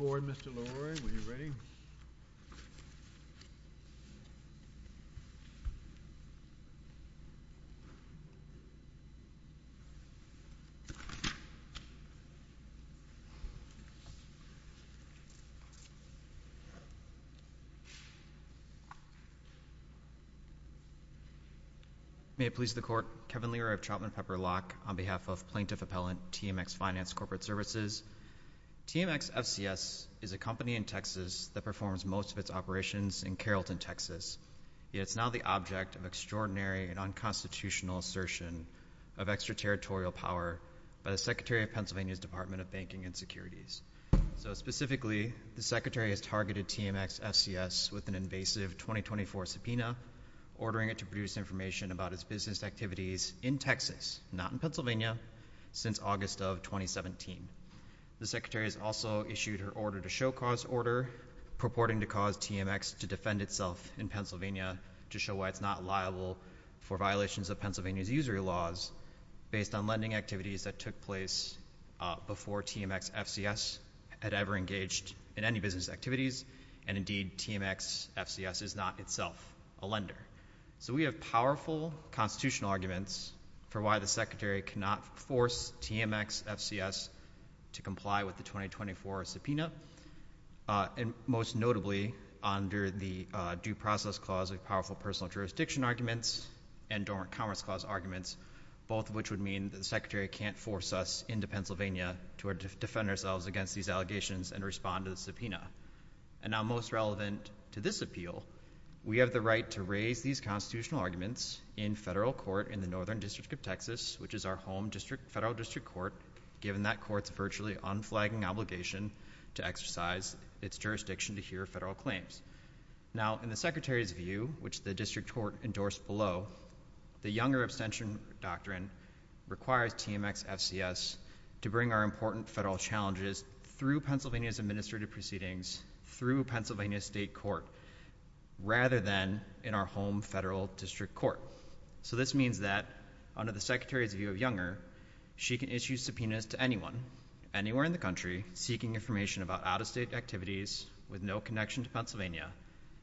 Board, Mr. Lowery, when you're ready. May it please the Court, Kevin Leary of Chapman Pepper Lock, on behalf of Plaintiff Appellant TMX Finance Corporate Services, TMX FCS is a company in Texas that performs most of its operations in Carrollton, Texas, yet it's now the object of extraordinary and unconstitutional assertion of extraterritorial power by the Secretary of Pennsylvania's Department of Banking and Securities. So specifically, the Secretary has targeted TMX FCS with an invasive 2024 subpoena, ordering it to produce information about its business activities in Texas, not in Pennsylvania, since August of 2017. The Secretary has also issued her order to show cause order, purporting to cause TMX to defend itself in Pennsylvania, to show why it's not liable for violations of Pennsylvania's usury laws, based on lending activities that took place before TMX FCS had ever engaged in any business activities, and indeed, TMX FCS is not itself a lender. So we have powerful constitutional arguments for why the Secretary cannot force TMX FCS to comply with the 2024 subpoena, and most notably, under the Due Process Clause, a powerful personal jurisdiction arguments, and Dormant Commerce Clause arguments, both of which would mean that the Secretary can't force us into Pennsylvania to defend ourselves against these allegations and respond to the subpoena. And now, most relevant to this appeal, we have the right to raise these constitutional arguments in federal court in the Northern District of Texas, which is our home district federal district court, given that court's virtually unflagging obligation to exercise its jurisdiction to hear federal claims. Now, in the Secretary's view, which the district court endorsed below, the Younger Abstention Doctrine requires TMX FCS to bring our important federal challenges through Pennsylvania's administrative proceedings, through Pennsylvania's state court, rather than in our home federal district court. So this means that, under the Secretary's view of Younger, she can issue subpoenas to anyone, anywhere in the country, seeking information about out-of-state activities with no connection to Pennsylvania,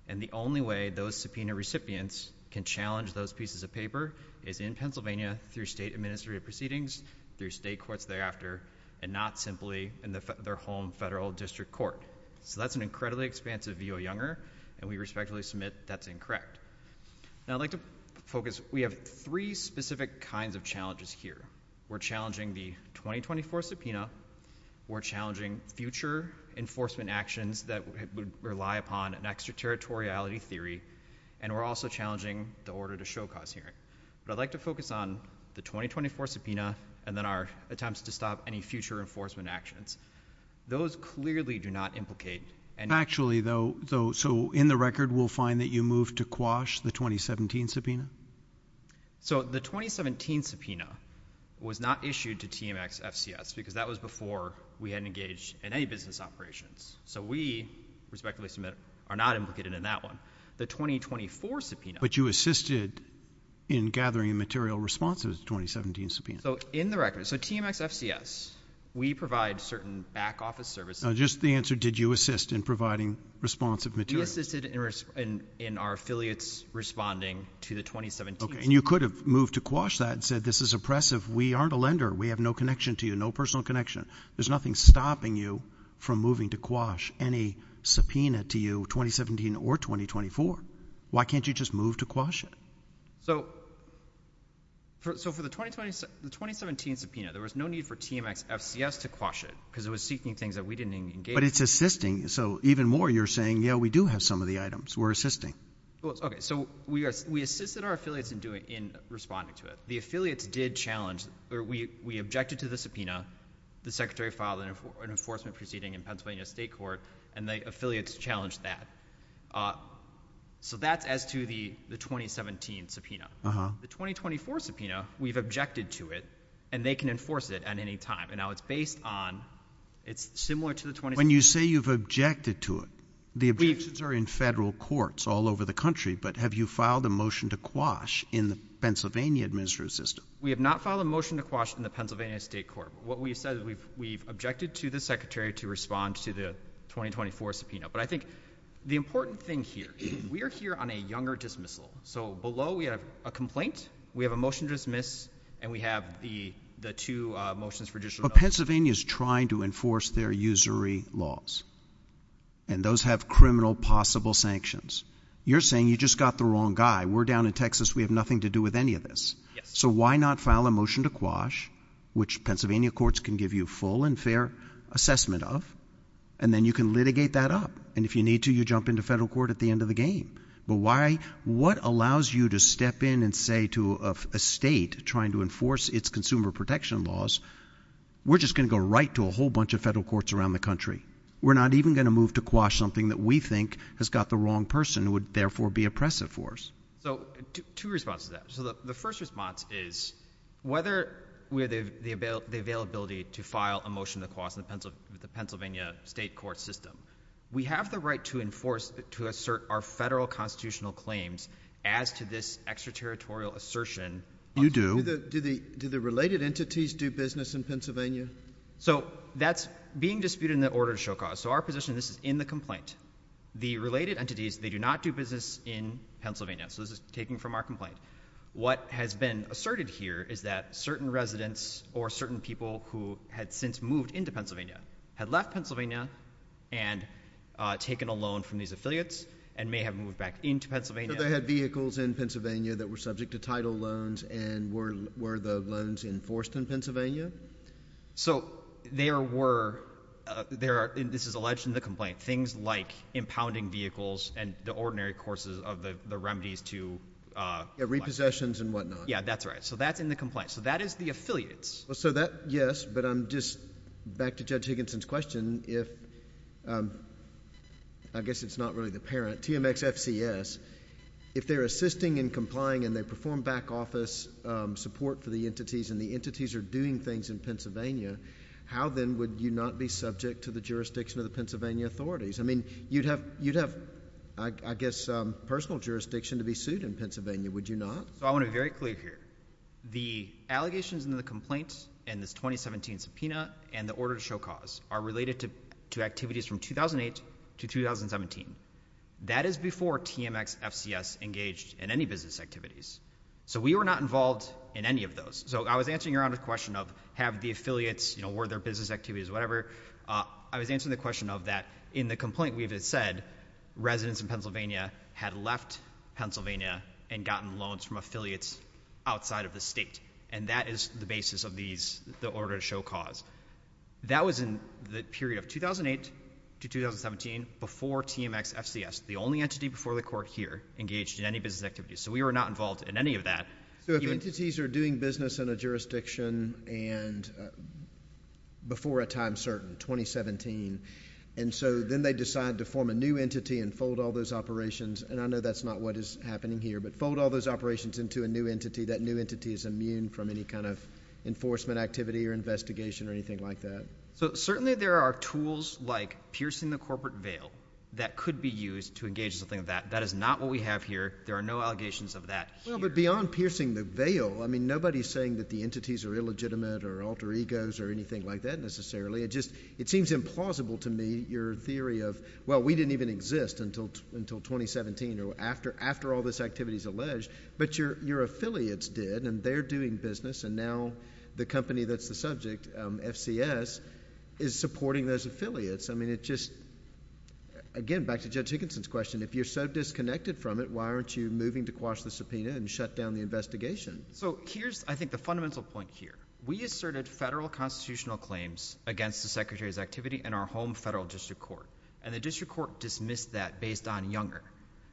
and the only way those subpoena recipients can challenge those pieces of paper is in Pennsylvania, through state administrative proceedings, through state courts thereafter, and not simply in their home federal district court. So that's an incredibly expansive view of Younger, and we respectfully submit that's incorrect. Now, I'd like to focus, we have three specific kinds of challenges here. We're challenging the 2024 subpoena, we're challenging future enforcement actions that would rely upon an extraterritoriality theory, and we're also challenging the order to show cause hearing. But I'd like to focus on the 2024 subpoena, and then our attempts to stop any future enforcement actions. Those clearly do not implicate any... Actually though, so in the record we'll find that you moved to quash the 2017 subpoena? So the 2017 subpoena was not issued to TMX FCS, because that was before we had engaged in any business operations. So we, respectfully submit, are not implicated in that one. The 2024 subpoena... But you assisted in gathering material responsive to the 2017 subpoena? So in the record, so TMX FCS, we provide certain back office services... Just the answer, did you assist in providing responsive material? We assisted in our affiliates responding to the 2017 subpoena. Okay, and you could have moved to quash that and said this is oppressive, we aren't a lender, we have no connection to you, no personal connection, there's nothing stopping you from moving to quash any subpoena to you, 2017 or 2024. Why can't you just move to quash it? So for the 2017 subpoena, there was no need for TMX FCS to quash it, because it was seeking things that we didn't engage in. But it's assisting, so even more you're saying, yeah, we do have some of the items, we're assisting. Okay, so we assisted our affiliates in responding to it. The affiliates did challenge, or we objected to the subpoena, the secretary filed an enforcement proceeding in Pennsylvania State Court, and the affiliates challenged that. So that's as to the 2017 subpoena. The 2024 subpoena, we've objected to it, and they can enforce it at any time. And now it's based on, it's similar to the... When you say you've objected to it, the objections are in federal courts all over the country, but have you filed a motion to quash in the Pennsylvania administrative system? We have not filed a motion to quash in the Pennsylvania State Court. What we've said is we've objected to the secretary to respond to the 2024 subpoena. But I think the important thing here, we are here on a younger dismissal. So below we have a complaint, we have a motion to dismiss, and we have the two motions for judicial... But Pennsylvania's trying to enforce their usury laws. And those have criminal possible sanctions. You're saying you just got the wrong guy. We're down in Texas, we have nothing to do with any of this. So why not file a motion to quash, which Pennsylvania courts can give you full and fair assessment of, and then you can litigate that up? And if you need to, you jump into federal court at the end of the game. But why... What allows you to step in and say to a state trying to enforce its consumer protection laws, we're just gonna go right to a whole bunch of federal courts around the country. We're not even gonna move to quash something that we think has got the wrong person, would therefore be oppressive for us. So two responses to that. So the first response is, whether the availability to file a motion to quash with the Pennsylvania state court system. We have the right to enforce, to assert our federal constitutional claims as to this extraterritorial assertion. You do. Do the related entities do business in Pennsylvania? So that's being disputed in the order to show cause. So our position, this is in the complaint. The related entities, they do not do business in Pennsylvania. So this is taking from our complaint. What has been asserted here is that certain residents or certain people who had since moved into Pennsylvania, had left Pennsylvania and taken a loan from these affiliates and may have moved back into Pennsylvania. So they had vehicles in Pennsylvania that were subject to title loans and were the loans enforced in Pennsylvania? So there were, there are, this is alleged in the complaint, things like impounding vehicles and the ordinary courses of the remedies to, uh, yeah, repossessions and whatnot. Yeah, that's right. So that's in the complaint. So that is the affiliates. Well, so that, yes, but I'm just back to Judge Higginson's question, if, um, I guess it's not really the parent, TMXFCS, if they're assisting and complying and they perform back office, um, support for the entities and the entities are doing things in Pennsylvania, how then would you not be subject to the jurisdiction of the Pennsylvania authorities? I mean, you'd have, you'd have, I guess, um, personal jurisdiction to be sued in Pennsylvania, would you not? So I want to be very clear here. The allegations in the complaint and this 2017 subpoena and the order to show cause are related to, to activities from 2008 to 2017. That is before TMXFCS engaged in any business activities. So we were not involved in any of those. So I was answering your honor's question of have the affiliates, you know, were there business activities, whatever. Uh, I was answering the question of that in the complaint we've had said residents in Pennsylvania had left Pennsylvania and gotten loans from affiliates outside of the state. And that is the basis of these, the order to show cause. That was in the period of 2008 to 2017 before TMXFCS, the only entity before the court here engaged in any business activities. So we were not involved in any of that. So if entities are doing business in a jurisdiction and, uh, before a time certain, 2017, and so then they decide to form a new entity and fold all those operations. And I know that's not what is happening here, but fold all those operations into a new entity. That new entity is immune from any kind of enforcement activity or investigation or anything like that. So certainly there are tools like piercing the corporate veil that could be used to engage in something of that. That is not what we have here. There are no allegations of that. Well, but beyond piercing the veil, I mean, nobody's saying that the entities are illegitimate or alter egos or anything like that necessarily. It just, it seems implausible to me, your theory of, well, we didn't even exist until, until 2017 or after, after all this activity is alleged, but your, your affiliates did and they're doing business and now the company that's the subject, um, FCS is supporting those affiliates. I mean, it just, again, back to Judge Higginson's question, if you're so disconnected from it, why aren't you moving to quash the subpoena and shut down the investigation? So here's, I think the fundamental point here, we asserted federal constitutional claims against the secretary's activity in our home federal district court and the district court dismissed that based on Younger.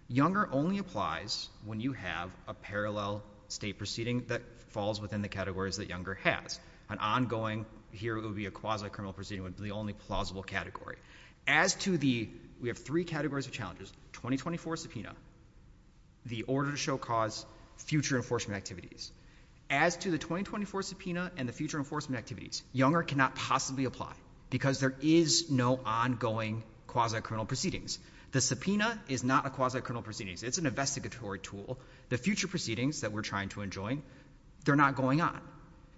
Younger only applies when you have a parallel state proceeding that falls within the categories that Younger has. An ongoing, here it would be a quasi criminal proceeding would be the only plausible category. As to the, we have three categories of challenges, 2024 subpoena, the order to show cause, future enforcement activities. As to the 2024 subpoena and the future enforcement activities, Younger cannot possibly apply because there is no ongoing quasi criminal proceedings. The subpoena is not a quasi criminal proceedings. It's an investigatory tool. The future proceedings that we're trying to enjoin, they're not going on.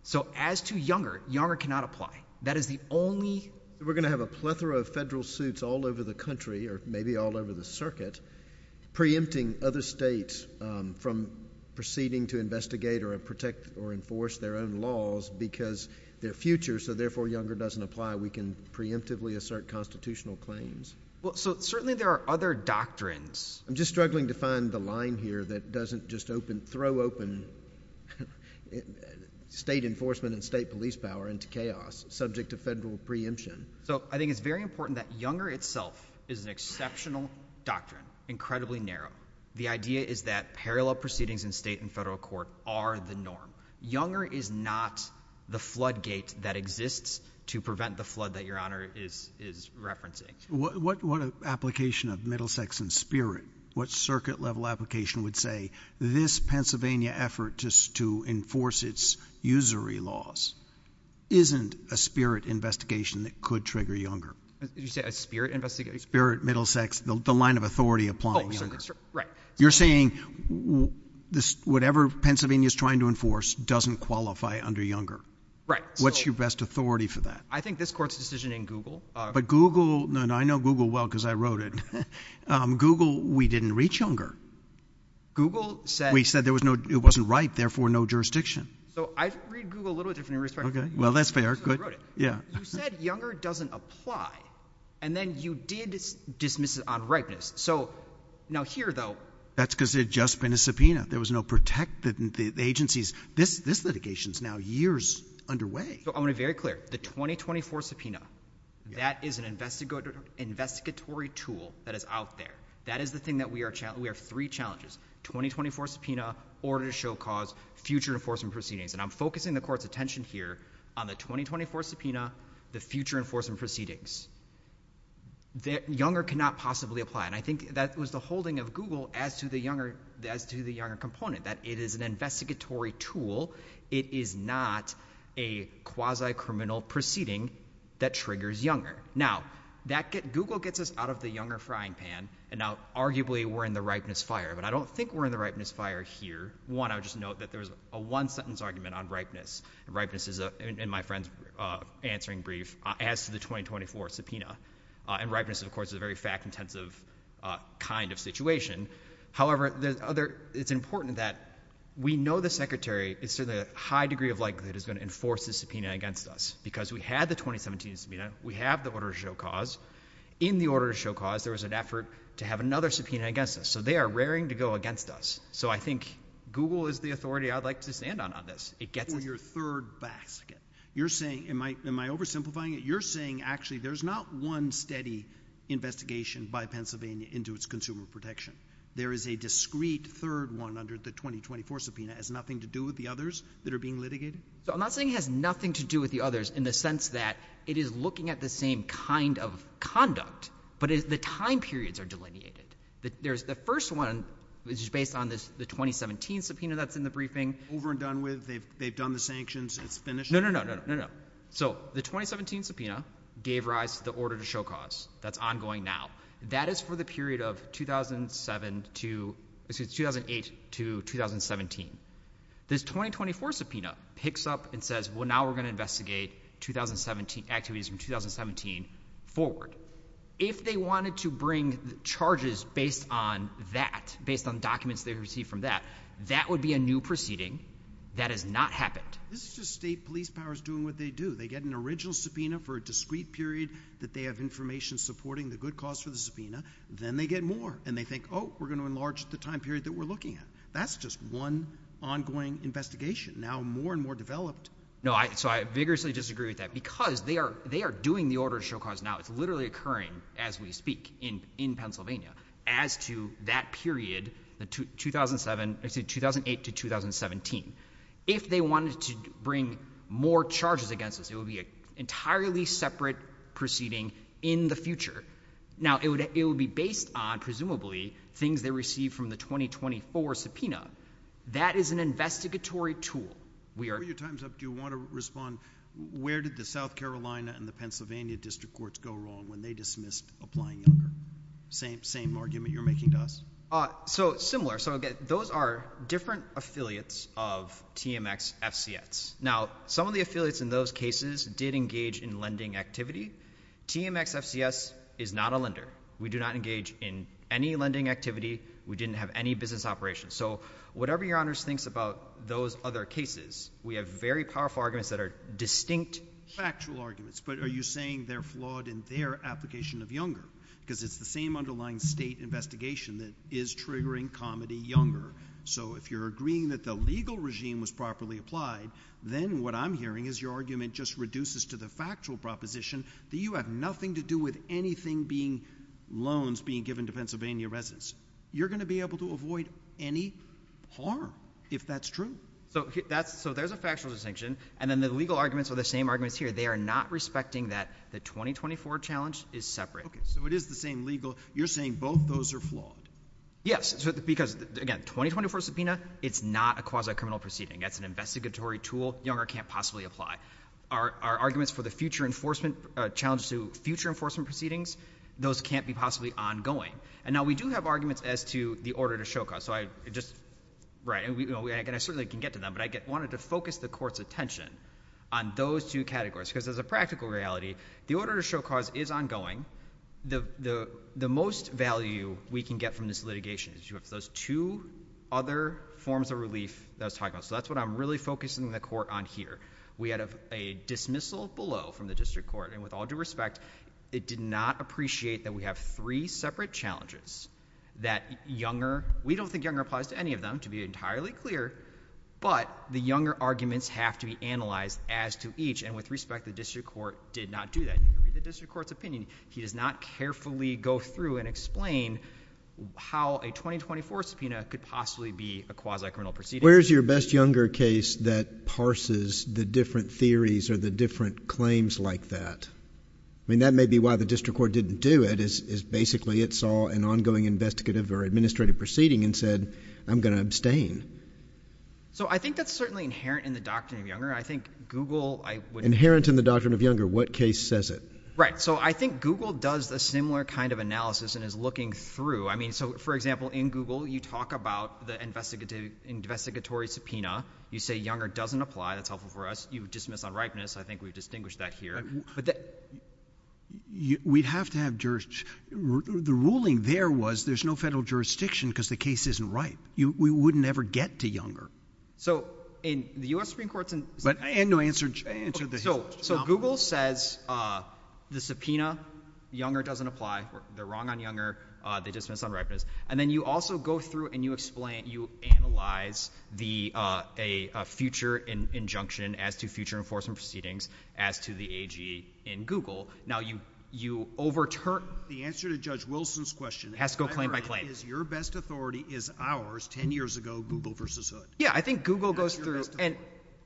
So as to Younger, Younger cannot apply. That is the only. We're going to have a plethora of federal suits all over the country or maybe all over the circuit preempting other states from proceeding to investigate or protect or enforce their own laws because their future, so therefore Younger doesn't apply. We can preemptively assert constitutional claims. Well, so certainly there are other doctrines. I'm just struggling to find the line here that doesn't just open, throw open state enforcement and state police power into chaos subject to federal preemption. So I think it's very important that Younger itself is an exceptional doctrine, incredibly narrow. The idea is that parallel proceedings in state and federal court are the norm. Younger is not the floodgate that exists to prevent the flood that your honor is, is referencing. What application of Middlesex in spirit, what circuit level application would say this Pennsylvania effort to enforce its usury laws isn't a spirit investigation that could trigger Younger. Did you say a spirit investigation? Spirit Middlesex, the line of authority applying. You're saying this, whatever Pennsylvania is trying to enforce doesn't qualify under Younger. Right. What's your best authority for that? I think this court's decision in Google. But Google, and I know Google well because I wrote it, Google, we didn't reach Younger. Google said, we said there was no, it wasn't right, therefore no jurisdiction. So I read Google a little bit different in respect. Well, that's fair. Good. Yeah. You said Younger doesn't apply. And then you did dismiss it on ripeness. So now here though, that's because it just been a subpoena. There was no protect that the agencies, this, this litigation is now years underway. So I want to be very clear, the 2024 subpoena, that is an investigative investigatory tool that is out there. That is the thing that we are, we have three challenges, 2024 subpoena, order to show cause, future enforcement proceedings. And I'm focusing the court's attention here on the 2024 subpoena, the future enforcement proceedings that Younger cannot possibly apply. And I think that was the holding of Google as to the Younger, as to the Younger component, that it is an investigatory tool. It is not a quasi criminal proceeding that triggers Younger. Now, that gets, Google gets us out of the Younger frying pan and now arguably we're in the ripeness fire. But I don't think we're in the ripeness fire here. One, I would just note that there was a one sentence argument on ripeness and ripeness is a, and my friend's answering brief as to the 2024 subpoena and ripeness of course is a very fact intensive kind of situation. However, there's other, it's important that we know the secretary is to the high degree of likelihood is going to enforce the subpoena against us because we had the 2017 subpoena. We have the order to show cause. In the order to show cause, there was an effort to have another subpoena against us. So they are raring to go against us. So I think Google is the authority I'd like to stand on on this. It gets us. For your third basket, you're saying, am I, am I oversimplifying it? You're saying actually there's not one steady investigation by Pennsylvania into its consumer protection. There is a discrete third one under the 2024 subpoena has nothing to do with the others that are being litigated. I'm not saying it has nothing to do with the others in the sense that it is looking at the same kind of conduct, but it's the time periods are delineated that there's the first one is just based on this, the 2017 subpoena that's in the briefing. Over and done with. They've, they've done the sanctions. It's finished. No, no, no, no, no, no. So the 2017 subpoena gave rise to the order to show cause. That's ongoing now. That is for the period of 2007 to, excuse me, 2008 to 2017. This 2024 subpoena picks up and says, well, now we're going to investigate 2017 activities from 2017 forward. If they wanted to bring charges based on that, based on documents they received from that, that would be a new proceeding. That has not happened. This is just state police powers doing what they do. They get an original subpoena for a discrete period that they have information supporting the good cause for the subpoena. Then they get more and they think, oh, we're going to enlarge the time period that we're looking at. That's just one ongoing investigation now more and more developed. No, I, so I vigorously disagree with that because they are, they are doing the order to show cause. Now it's literally occurring as we speak in, in Pennsylvania as to that period, the 2007, excuse me, 2008 to 2017. If they wanted to bring more charges against us, it would be an entirely separate proceeding in the future. Now it would, it would be based on presumably things they received from the 2024 subpoena. That is an investigatory tool. We are. Your time's up. Do you want to respond? Where did the South Carolina and the Pennsylvania district courts go wrong when they dismissed applying younger? Same, same argument you're making to us. So similar. So again, those are different affiliates of TMX FCS. Now some of the affiliates in those cases did engage in lending activity. TMX FCS is not a lender. We do not engage in any lending activity. We didn't have any business operations. So whatever your honors thinks about those other cases, we have very powerful arguments that are distinct factual arguments, but are you saying they're flawed in their application of younger? Because it's the same underlying state investigation that is triggering comedy younger. So if you're agreeing that the legal regime was properly applied, then what I'm hearing is your argument just reduces to the factual proposition that you have nothing to do with anything being loans being given to Pennsylvania residents. You're going to be able to avoid any harm if that's true. So that's, so there's a factual distinction and then the legal arguments are the same arguments here. They are not respecting that the 2024 challenge is separate. Okay. So it is the same legal. You're saying both those are flawed. Yes. Because again, 2024 subpoena, it's not a quasi criminal proceeding. That's an investigatory tool. Younger can't possibly apply our, our arguments for the future enforcement challenges to future enforcement proceedings. Those can't be possibly ongoing. And now we do have arguments as to the order to show cause. So I just, right. And we, you know, we, I can, I certainly can get to them, but I get wanted to focus the court's attention on those two categories because there's a practical reality. The order to show cause is ongoing. The, the, the most value we can get from this litigation is you have those two other forms of relief that I was talking about. So that's what I'm really focusing the court on here. We had a dismissal below from the district court and with all due respect, it did not appreciate that we have three separate challenges that younger, we don't think younger applies to any of them to be entirely clear, but the younger arguments have to be analyzed as to each. And with respect, the district court did not do that. You can read the district court's opinion. He does not carefully go through and explain how a 2024 subpoena could possibly be a quasi criminal proceeding. Where's your best younger case that parses the different theories or the different claims like that? I mean, that may be why the district court didn't do it is, is basically it saw an ongoing investigative or administrative proceeding and said, I'm going to abstain. So I think that's certainly inherent in the doctrine of younger. I think Google, I would. Inherent in the doctrine of younger. What case says it? Right. So I think Google does a similar kind of analysis and is looking through, I mean, so for example, in Google, you talk about the investigative investigatory subpoena, you say younger doesn't apply. That's helpful for us. You would dismiss on ripeness. I think we've distinguished that here, but that we'd have to have jurors. The ruling there was there's no federal jurisdiction because the case isn't right. We wouldn't ever get to younger. So in the U.S. Supreme court, but no answer. So Google says, uh, the subpoena younger doesn't apply or they're wrong on younger. Uh, they dismiss on ripeness. And then you also go through and you explain, you analyze the, uh, a future in injunction as to future enforcement proceedings as to the AG in Google. Now you, you overturn the answer to judge Wilson's question has to go claim by claim is your best authority is ours. 10 years ago. Google versus hood. Yeah. I think Google goes through and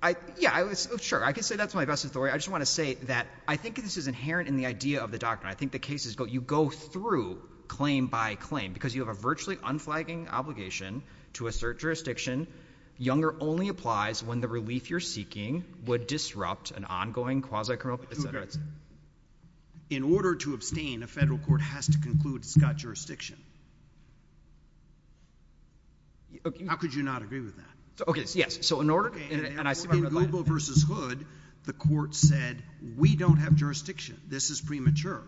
I, yeah, I was sure I can say that's my best authority. I just want to say that I think this is inherent in the idea of the doctrine. I think the cases go, you go through claim by claim because you have a virtually unflagging obligation to assert jurisdiction. Younger only applies when the relief you're seeking would disrupt an ongoing quasi criminal. In order to abstain, a federal court has to conclude it's got jurisdiction. How could you not agree with that? Okay. Yes. So in order, and I see Google versus hood, the court said, we don't have jurisdiction. This is premature.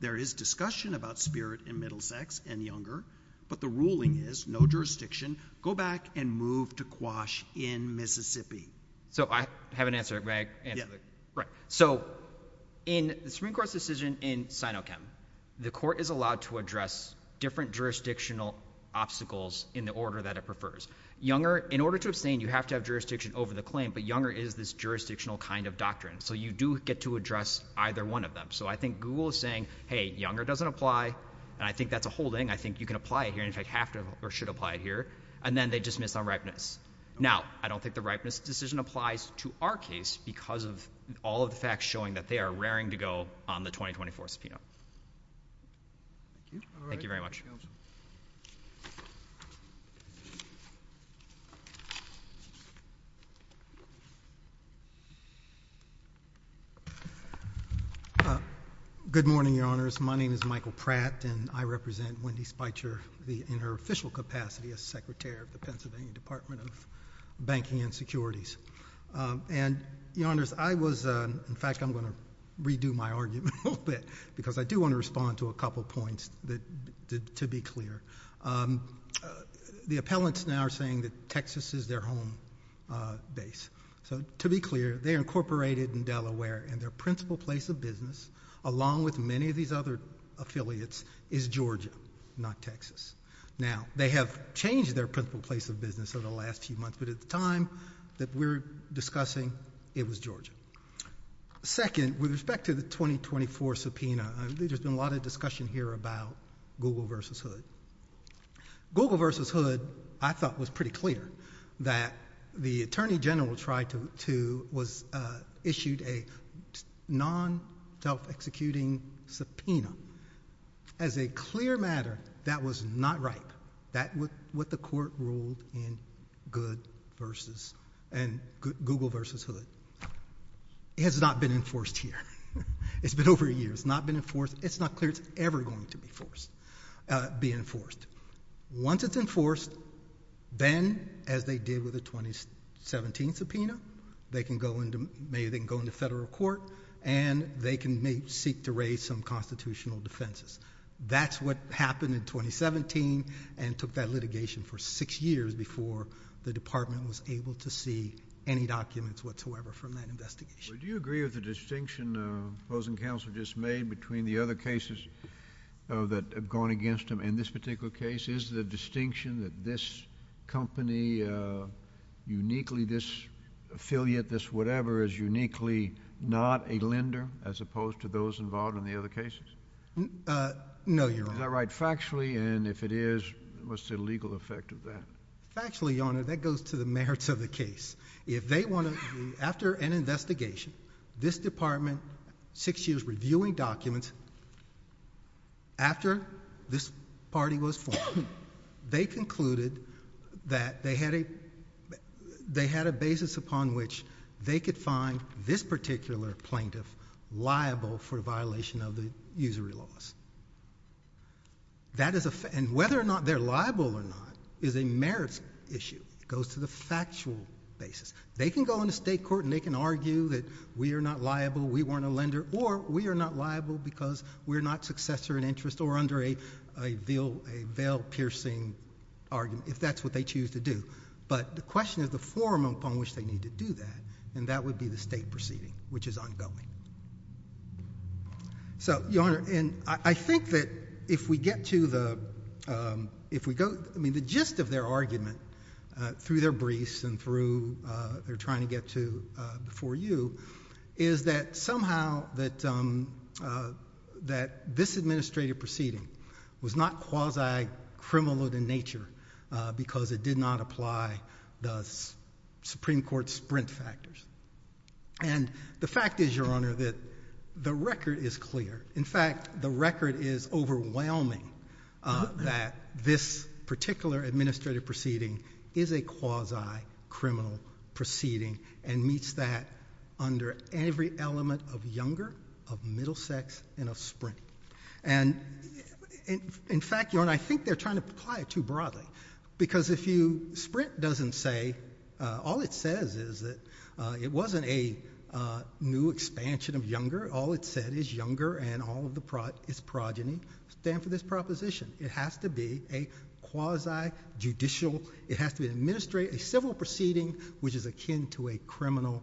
There is discussion about spirit and middle sex and younger, but the ruling is no jurisdiction. Go back and move to quash in Mississippi. So I have an answer, right? So in the Supreme Court's decision in Sinochem, the court is allowed to address different jurisdictional obstacles in the order that it prefers younger. In order to abstain, you have to have jurisdiction over the claim, but younger is this jurisdictional kind of doctrine. So you do get to address either one of them. So I think Google is saying, Hey, younger doesn't apply. And I think that's a holding. I think you can apply it here and in fact have to, or should apply it here. And then they just miss on ripeness. Now I don't think the ripeness decision applies to our case because of all of the facts showing that they are raring to go on the 2024 subpoena. Thank you very much. Good morning, Your Honors. My name is Michael Pratt, and I represent Wendy Speicher in her official capacity as Secretary of the Pennsylvania Department of Banking and Securities. And Your Honors, I was, in fact, I'm going to redo my argument a little bit because I do want to respond to a couple of points that, to be clear. The appellants now are saying that Texas is their home base. So to be clear, they are incorporated in Delaware, and their principal place of business, along with many of these other affiliates, is Georgia, not Texas. Now, they have changed their principal place of business over the last few months, but at the time that we're discussing, it was Georgia. Second, with respect to the 2024 subpoena, there's been a lot of discussion here about Google v. Hood. Google v. Hood, I thought, was pretty clear that the Attorney General tried to, was issued a non-self-executing subpoena. As a clear matter, that was not right. That was what the court ruled in Google v. Hood. It has not been enforced here. It's been over a year. It's not been enforced. It's not clear it's ever going to be enforced. Once it's enforced, then, as they did with the 2017 subpoena, maybe they can go into federal court, and they can seek to raise some constitutional defenses. That's what happened in 2017, and took that litigation for six years before the department was able to see any documents whatsoever from that investigation. Well, do you agree with the distinction opposing counsel just made between the other cases that have gone against him and this particular case? Is the distinction that this company, uniquely this affiliate, this whatever, is uniquely not a lender, as opposed to those involved in the other cases? No, Your Honor. Is that right factually, and if it is, what's the legal effect of that? Factually, Your Honor, that goes to the merits of the case. If they want to, after an investigation, this department, six years reviewing documents, after this party was formed, they concluded that they had a basis upon which they could find this particular plaintiff liable for a violation of the usury laws, and whether or not they're liable or not is a merits issue. It goes to the factual basis. They can go into state court, and they can argue that we are not liable, we weren't a lender, or we are not liable because we're not successor in interest or under a veil-piercing argument, if that's what they choose to do. But the question is the form upon which they need to do that, and that would be the state proceeding, which is ongoing. So Your Honor, and I think that if we get to the, if we go, I mean, the gist of their argument through their briefs and through their trying to get to before you, is that somehow that this administrative proceeding was not quasi-criminal in nature because it did not apply the Supreme Court's sprint factors. And the fact is, Your Honor, that the record is clear. In fact, the record is overwhelming that this particular administrative proceeding is a quasi-criminal proceeding and meets that under every element of younger, of middle sex, and of sprint. And in fact, Your Honor, I think they're trying to apply it too broadly. Because if you, sprint doesn't say, all it says is that it wasn't a new expansion of younger, all it said is younger and all of the, its progeny stand for this proposition. It has to be a quasi-judicial, it has to be an administrative, a civil proceeding which is akin to a criminal,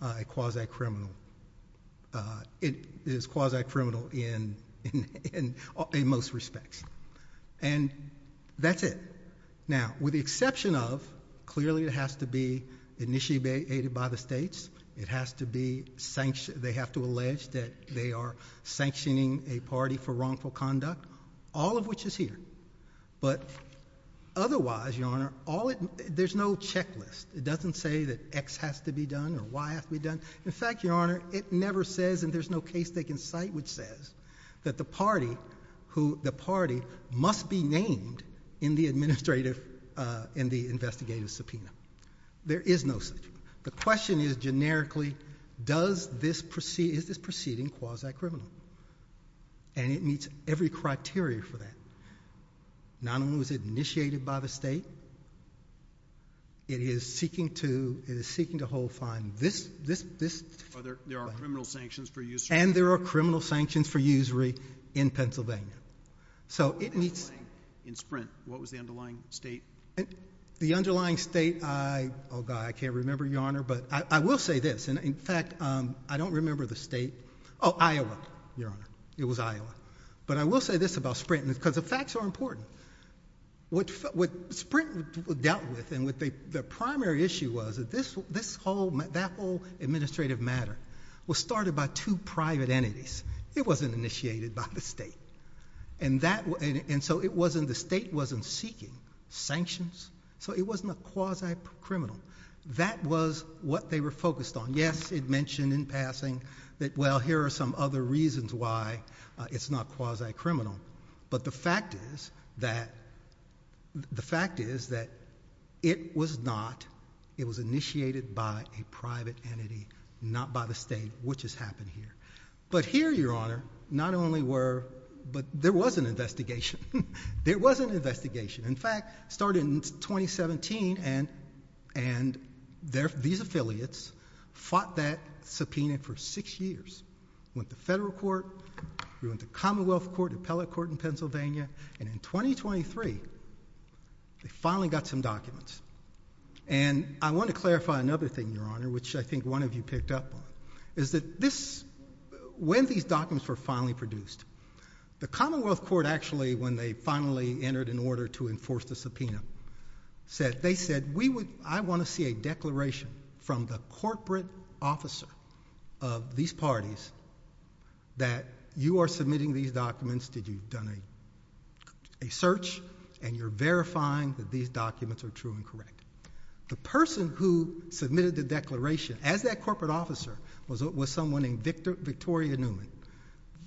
a quasi-criminal. It is quasi-criminal in most respects. And that's it. Now, with the exception of, clearly it has to be initiated by the states, it has to be sanctioned, they have to allege that they are sanctioning a party for wrongful conduct, all of which is here. But otherwise, Your Honor, all it, there's no checklist. It doesn't say that X has to be done or Y has to be done. In fact, Your Honor, it never says, and there's no case they can cite which says, that the party who, the party must be named in the administrative, in the investigative subpoena. There is no such. The question is generically, does this proceed, is this proceeding quasi-criminal? And it meets every criteria for that. Not only was it initiated by the state, it is seeking to, it is seeking to hold fine this, this, this. Are there, there are criminal sanctions for usury? And there are criminal sanctions for usury in Pennsylvania. So it meets. In Sprint, what was the underlying state? The underlying state, I, oh God, I can't remember, Your Honor, but I will say this, and in fact, I don't remember the state, oh, Iowa, Your Honor, it was Iowa. But I will say this about Sprint, because the facts are important. What, what Sprint dealt with and what they, the primary issue was that this, this whole, that whole administrative matter was started by two private entities. It wasn't initiated by the state. And that, and so it wasn't, the state wasn't seeking sanctions, so it wasn't a quasi-criminal. That was what they were focused on. Yes, it mentioned in passing that, well, here are some other reasons why it's not quasi-criminal. But the fact is that, the fact is that it was not, it was initiated by a private entity, not by the state, which has happened here. But here, Your Honor, not only were, but there was an investigation. There was an investigation. In fact, started in 2017, and, and there, these affiliates fought that subpoena for six years. Went to federal court, we went to commonwealth court, appellate court in Pennsylvania, and in 2023, they finally got some documents. And I want to clarify another thing, Your Honor, which I think one of you picked up on, is that this, when these documents were finally produced, the commonwealth court actually, when they finally entered an order to enforce the subpoena, said, they said, we would, I of these parties, that you are submitting these documents, that you've done a, a search, and you're verifying that these documents are true and correct. The person who submitted the declaration, as that corporate officer, was, was someone named Victor, Victoria Newman.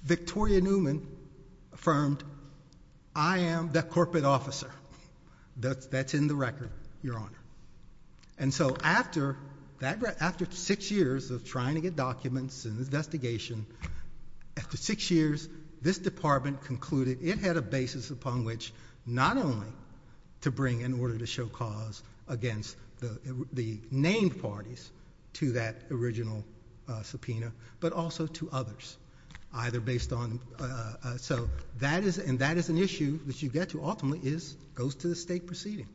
Victoria Newman affirmed, I am the corporate officer. That's, that's in the record, Your Honor. And so, after that, after six years of trying to get documents and investigation, after six years, this department concluded it had a basis upon which not only to bring an order to show cause against the, the named parties to that original subpoena, but also to others, either based on, so that is, and that is an issue that you get to ultimately is, goes to the state proceeding.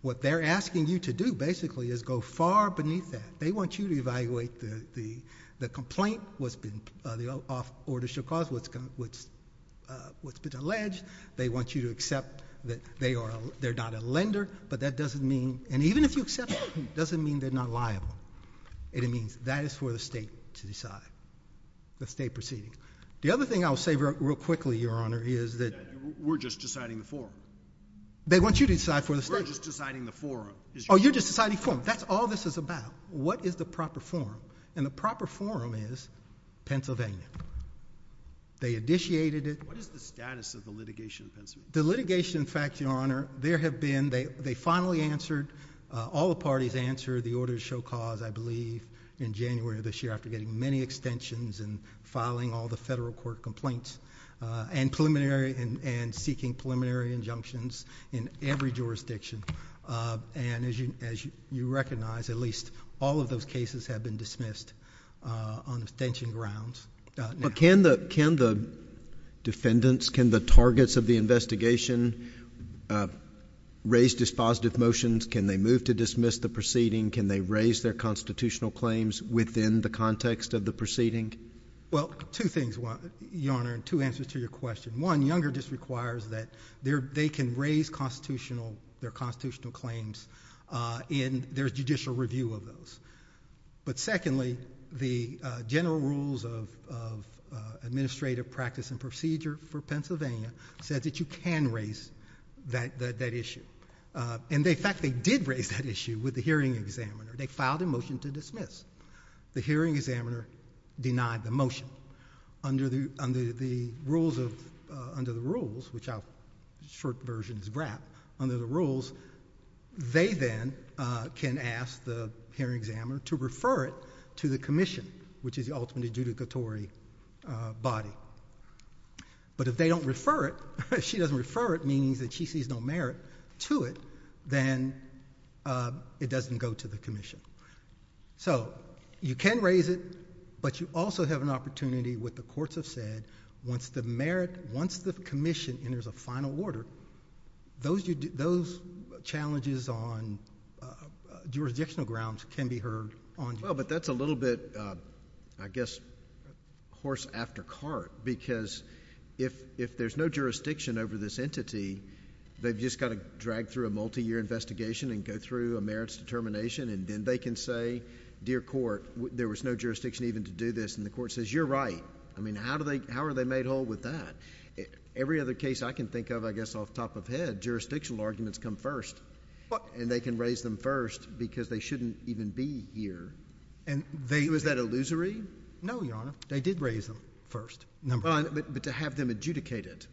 What they're asking you to do, basically, is go far beneath that. They want you to evaluate the, the, the complaint, what's been, the off, order to show cause, what's been, what's, what's been alleged. They want you to accept that they are, they're not a lender, but that doesn't mean, and even if you accept that, it doesn't mean they're not liable. It means that is for the state to decide, the state proceeding. The other thing I'll say real, real quickly, Your Honor, is that. We're just deciding the form. They want you to decide for the state. We're just deciding the form. Oh, you're just deciding form. That's all this is about. What is the proper form? And the proper form is Pennsylvania. They initiated it. What is the status of the litigation in Pennsylvania? The litigation, in fact, Your Honor, there have been, they, they finally answered, all the parties answered the order to show cause, I believe, in January of this year, after getting many extensions and filing all the federal court complaints, and preliminary, and seeking preliminary injunctions in every jurisdiction. And as you, as you recognize, at least all of those cases have been dismissed on extension grounds. But can the, can the defendants, can the targets of the investigation raise dispositive motions? Can they move to dismiss the proceeding? Can they raise their constitutional claims within the context of the proceeding? Well, two things, Your Honor, and two answers to your question. One, Younger just requires that they're, they can raise constitutional, their constitutional claims in their judicial review of those. But secondly, the general rules of, of administrative practice and procedure for Pennsylvania said that you can raise that, that, that issue. And they, in fact, they did raise that issue with the hearing examiner. They filed a motion to dismiss. The hearing examiner denied the motion. So, under the, under the rules of, under the rules, which our short version is BRAP, under the rules, they then can ask the hearing examiner to refer it to the commission, which is the ultimate adjudicatory body. But if they don't refer it, if she doesn't refer it, meaning that she sees no merit to it, then it doesn't go to the commission. So, you can raise it, but you also have an opportunity, what the courts have said, once the merit, once the commission enters a final order, those, those challenges on jurisdictional grounds can be heard on... Well, but that's a little bit, I guess, horse after cart, because if, if there's no jurisdiction over this entity, they've just got to drag through a multi-year investigation and go through a merits determination, and then they can say, dear court, there was no jurisdiction even to do this. And the court says, you're right. I mean, how do they, how are they made whole with that? Every other case I can think of, I guess, off the top of my head, jurisdictional arguments come first. But... And they can raise them first because they shouldn't even be here. And they... Was that illusory? No, Your Honor. They did raise them first. Number one. Well, but, but to have them adjudicate it,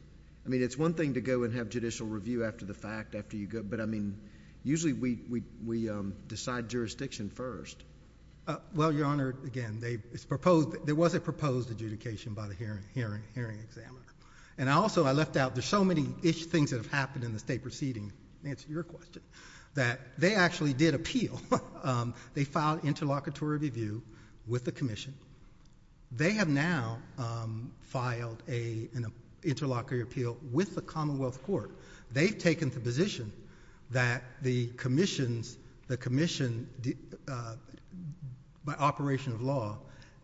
I mean, it's one thing to go and have judicial review after the fact, after you go... But, I mean, usually we, we, we decide jurisdiction first. Well, Your Honor, again, they, it's proposed... There was a proposed adjudication by the hearing, hearing, hearing examiner. And I also, I left out, there's so many ish things that have happened in the state proceeding, to answer your question, that they actually did appeal. They filed interlocutory review with the commission. They have now, um, filed a, an interlocutory appeal with the Commonwealth Court. They've taken the position that the commissions, the commission, uh, by operation of law,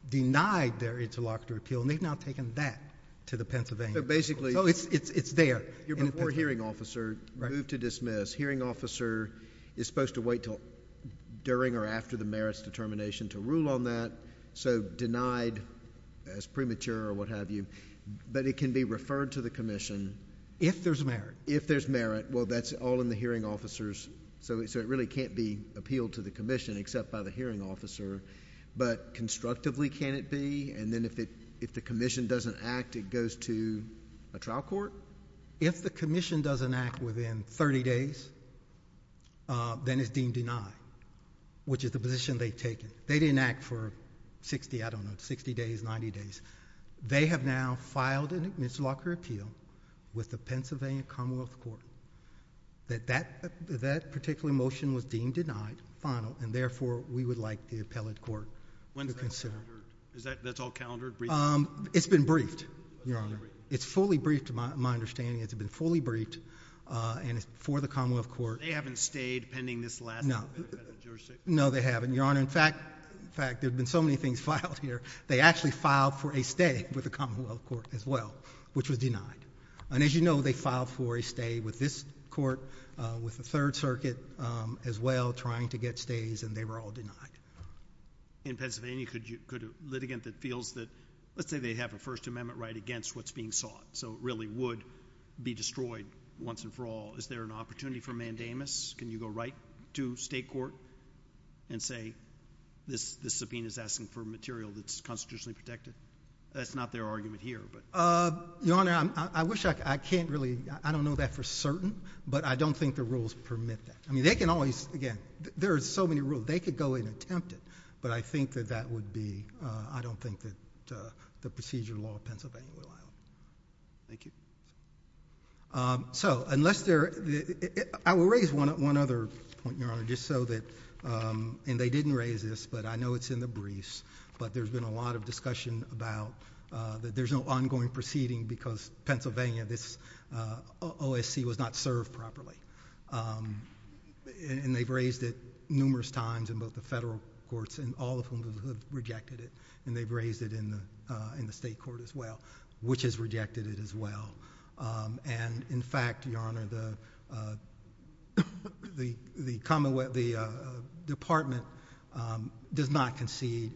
denied their interlocutory appeal. And they've now taken that to the Pennsylvania... So basically... Oh, it's, it's, it's there. You're before hearing officer. Right. Moved to dismiss. Hearing officer is supposed to wait till during or after the merits determination to rule on that. So, denied as premature or what have you, but it can be referred to the commission... If there's merit. If there's merit. Well, that's all in the hearing officer's... So, so it really can't be appealed to the commission except by the hearing officer, but constructively can it be? And then if it, if the commission doesn't act, it goes to a trial court? If the commission doesn't act within 30 days, uh, then it's deemed denied, which is the position they've taken. They didn't act for 60, I don't know, 60 days, 90 days. They have now filed an interlocutory appeal with the Pennsylvania Commonwealth Court that that, that particular motion was deemed denied, final, and therefore we would like the appellate court to consider. Is that, that's all calendared? Briefed? Um, it's been briefed, Your Honor. It's fully briefed to my, my understanding. It's been fully briefed, uh, and it's before the Commonwealth Court. They haven't stayed pending this last... No. No, they haven't. They haven't, Your Honor. In fact, in fact, there'd been so many things filed here, they actually filed for a stay with the Commonwealth Court as well, which was denied. And as you know, they filed for a stay with this court, uh, with the Third Circuit, um, as well, trying to get stays and they were all denied. In Pennsylvania, could you, could a litigant that feels that, let's say they have a First Amendment right against what's being sought, so it really would be destroyed once and for all. Is there an opportunity for mandamus? Can you go right to state court and say, this, this subpoena is asking for material that's constitutionally protected? That's not their argument here, but... Uh, Your Honor, I, I wish I, I can't really, I don't know that for certain, but I don't think the rules permit that. I mean, they can always, again, there are so many rules, they could go and attempt it, but I think that that would be, uh, I don't think that, uh, the procedure of law of Pennsylvania will allow it. Thank you. Um, so, unless there, I will raise one, one other point, Your Honor, just so that, um, and they didn't raise this, but I know it's in the briefs, but there's been a lot of discussion about, uh, that there's no ongoing proceeding because Pennsylvania, this, uh, OSC was not served properly. Um, and, and they've raised it numerous times in both the federal courts and all of whom have rejected it, and they've raised it in the, uh, in the state court as well, which has rejected it as well. Um, and in fact, Your Honor, the, uh, the, the commonwealth, the, uh, department, um, does not concede.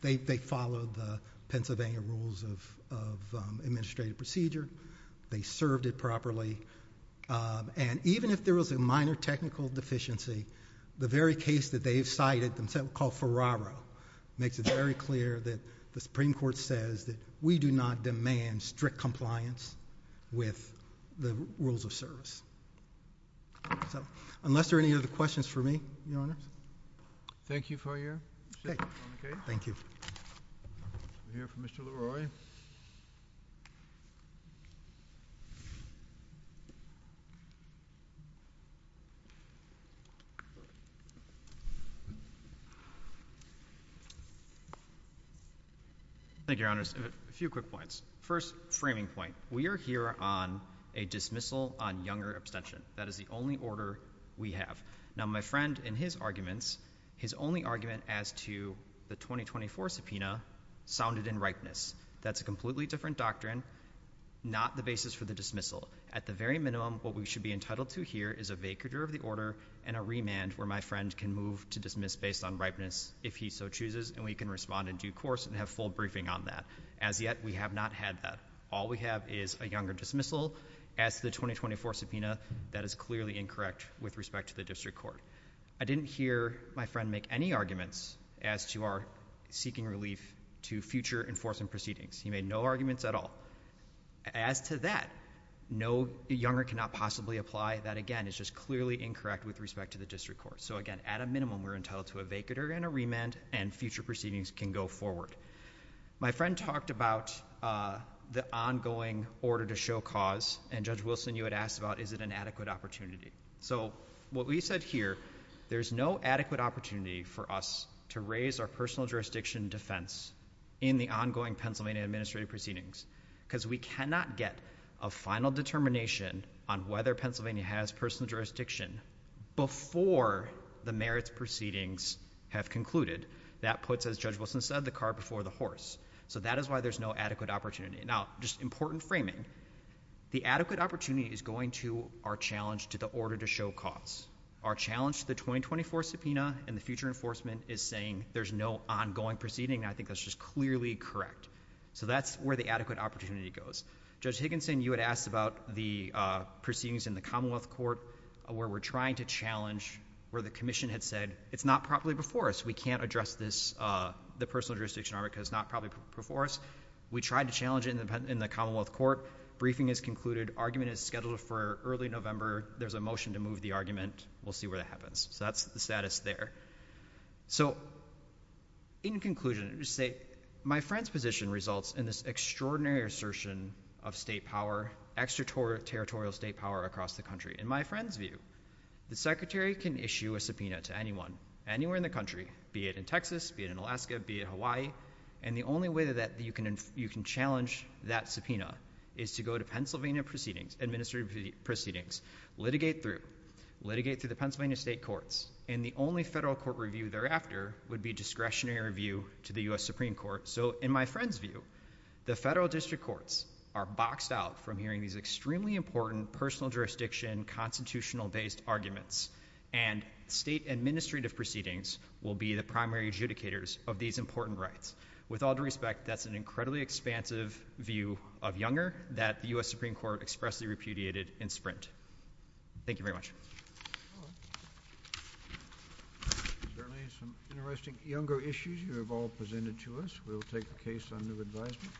They, they follow the Pennsylvania rules of, of, um, administrative procedure. They served it properly. Um, and even if there was a minor technical deficiency, the very case that they've cited themselves called Ferraro makes it very clear that the Supreme Court says that we do not demand strict compliance with the rules of service. So, unless there are any other questions for me, Your Honor. Thank you for your statement, Your Honor. Thank you. We'll hear from Mr. LaRoy. Thank you, Your Honors. A few quick points. First, framing point. We are here on a dismissal on younger abstention. That is the only order we have. Now, my friend, in his arguments, his only argument as to the 2024 subpoena sounded in ripeness. That's a completely different doctrine, not the basis for the dismissal. At the very minimum, what we should be entitled to here is a vacatur of the order and a remand where my friend can move to dismiss based on ripeness if he so chooses, and we can respond in due course and have full briefing on that. As yet, we have not had that. All we have is a younger dismissal as to the 2024 subpoena. That is clearly incorrect with respect to the district court. I didn't hear my friend make any arguments as to our seeking relief to future enforcement proceedings. He made no arguments at all. As to that, no younger cannot possibly apply. That again is just clearly incorrect with respect to the district court. So again, at a minimum, we're entitled to a vacatur and a remand, and future proceedings can go forward. My friend talked about the ongoing order to show cause, and Judge Wilson, you had asked about is it an adequate opportunity. So what we said here, there's no adequate opportunity for us to raise our personal jurisdiction defense in the ongoing Pennsylvania administrative proceedings, because we cannot get a final determination on whether Pennsylvania has personal jurisdiction before the merits proceedings have concluded. That puts, as Judge Wilson said, the car before the horse. So that is why there's no adequate opportunity. Now, just important framing. The adequate opportunity is going to our challenge to the order to show cause. Our challenge to the 2024 subpoena and the future enforcement is saying there's no ongoing proceeding, and I think that's just clearly correct. So that's where the adequate opportunity goes. Judge Higginson, you had asked about the proceedings in the Commonwealth Court where we're trying to challenge where the commission had said it's not properly before us. We can't address this, the personal jurisdiction, because it's not properly before us. We tried to challenge it in the Commonwealth Court. Briefing has concluded. Argument is scheduled for early November. There's a motion to move the argument. We'll see where that happens. So that's the status there. So in conclusion, let me just say, my friend's position results in this extraordinary assertion of state power, extraterritorial state power across the country. In my friend's view, the Secretary can issue a subpoena to anyone, anywhere in the country, be it in Texas, be it in Alaska, be it Hawaii, and the only way that you can challenge that subpoena is to go to Pennsylvania Administrative Proceedings, litigate through, litigate through the Pennsylvania State Courts, and the only federal court review thereafter would be discretionary review to the U.S. Supreme Court. So in my friend's view, the federal district courts are boxed out from hearing these extremely important personal jurisdiction constitutional-based arguments, and state administrative proceedings will be the primary adjudicators of these important rights. With all due respect, that's an incredibly expansive view of Younger that the U.S. Supreme Court expressly repudiated in Sprint. Thank you very much. Certainly some interesting Younger issues you have all presented to us. We will take the case on new advisement.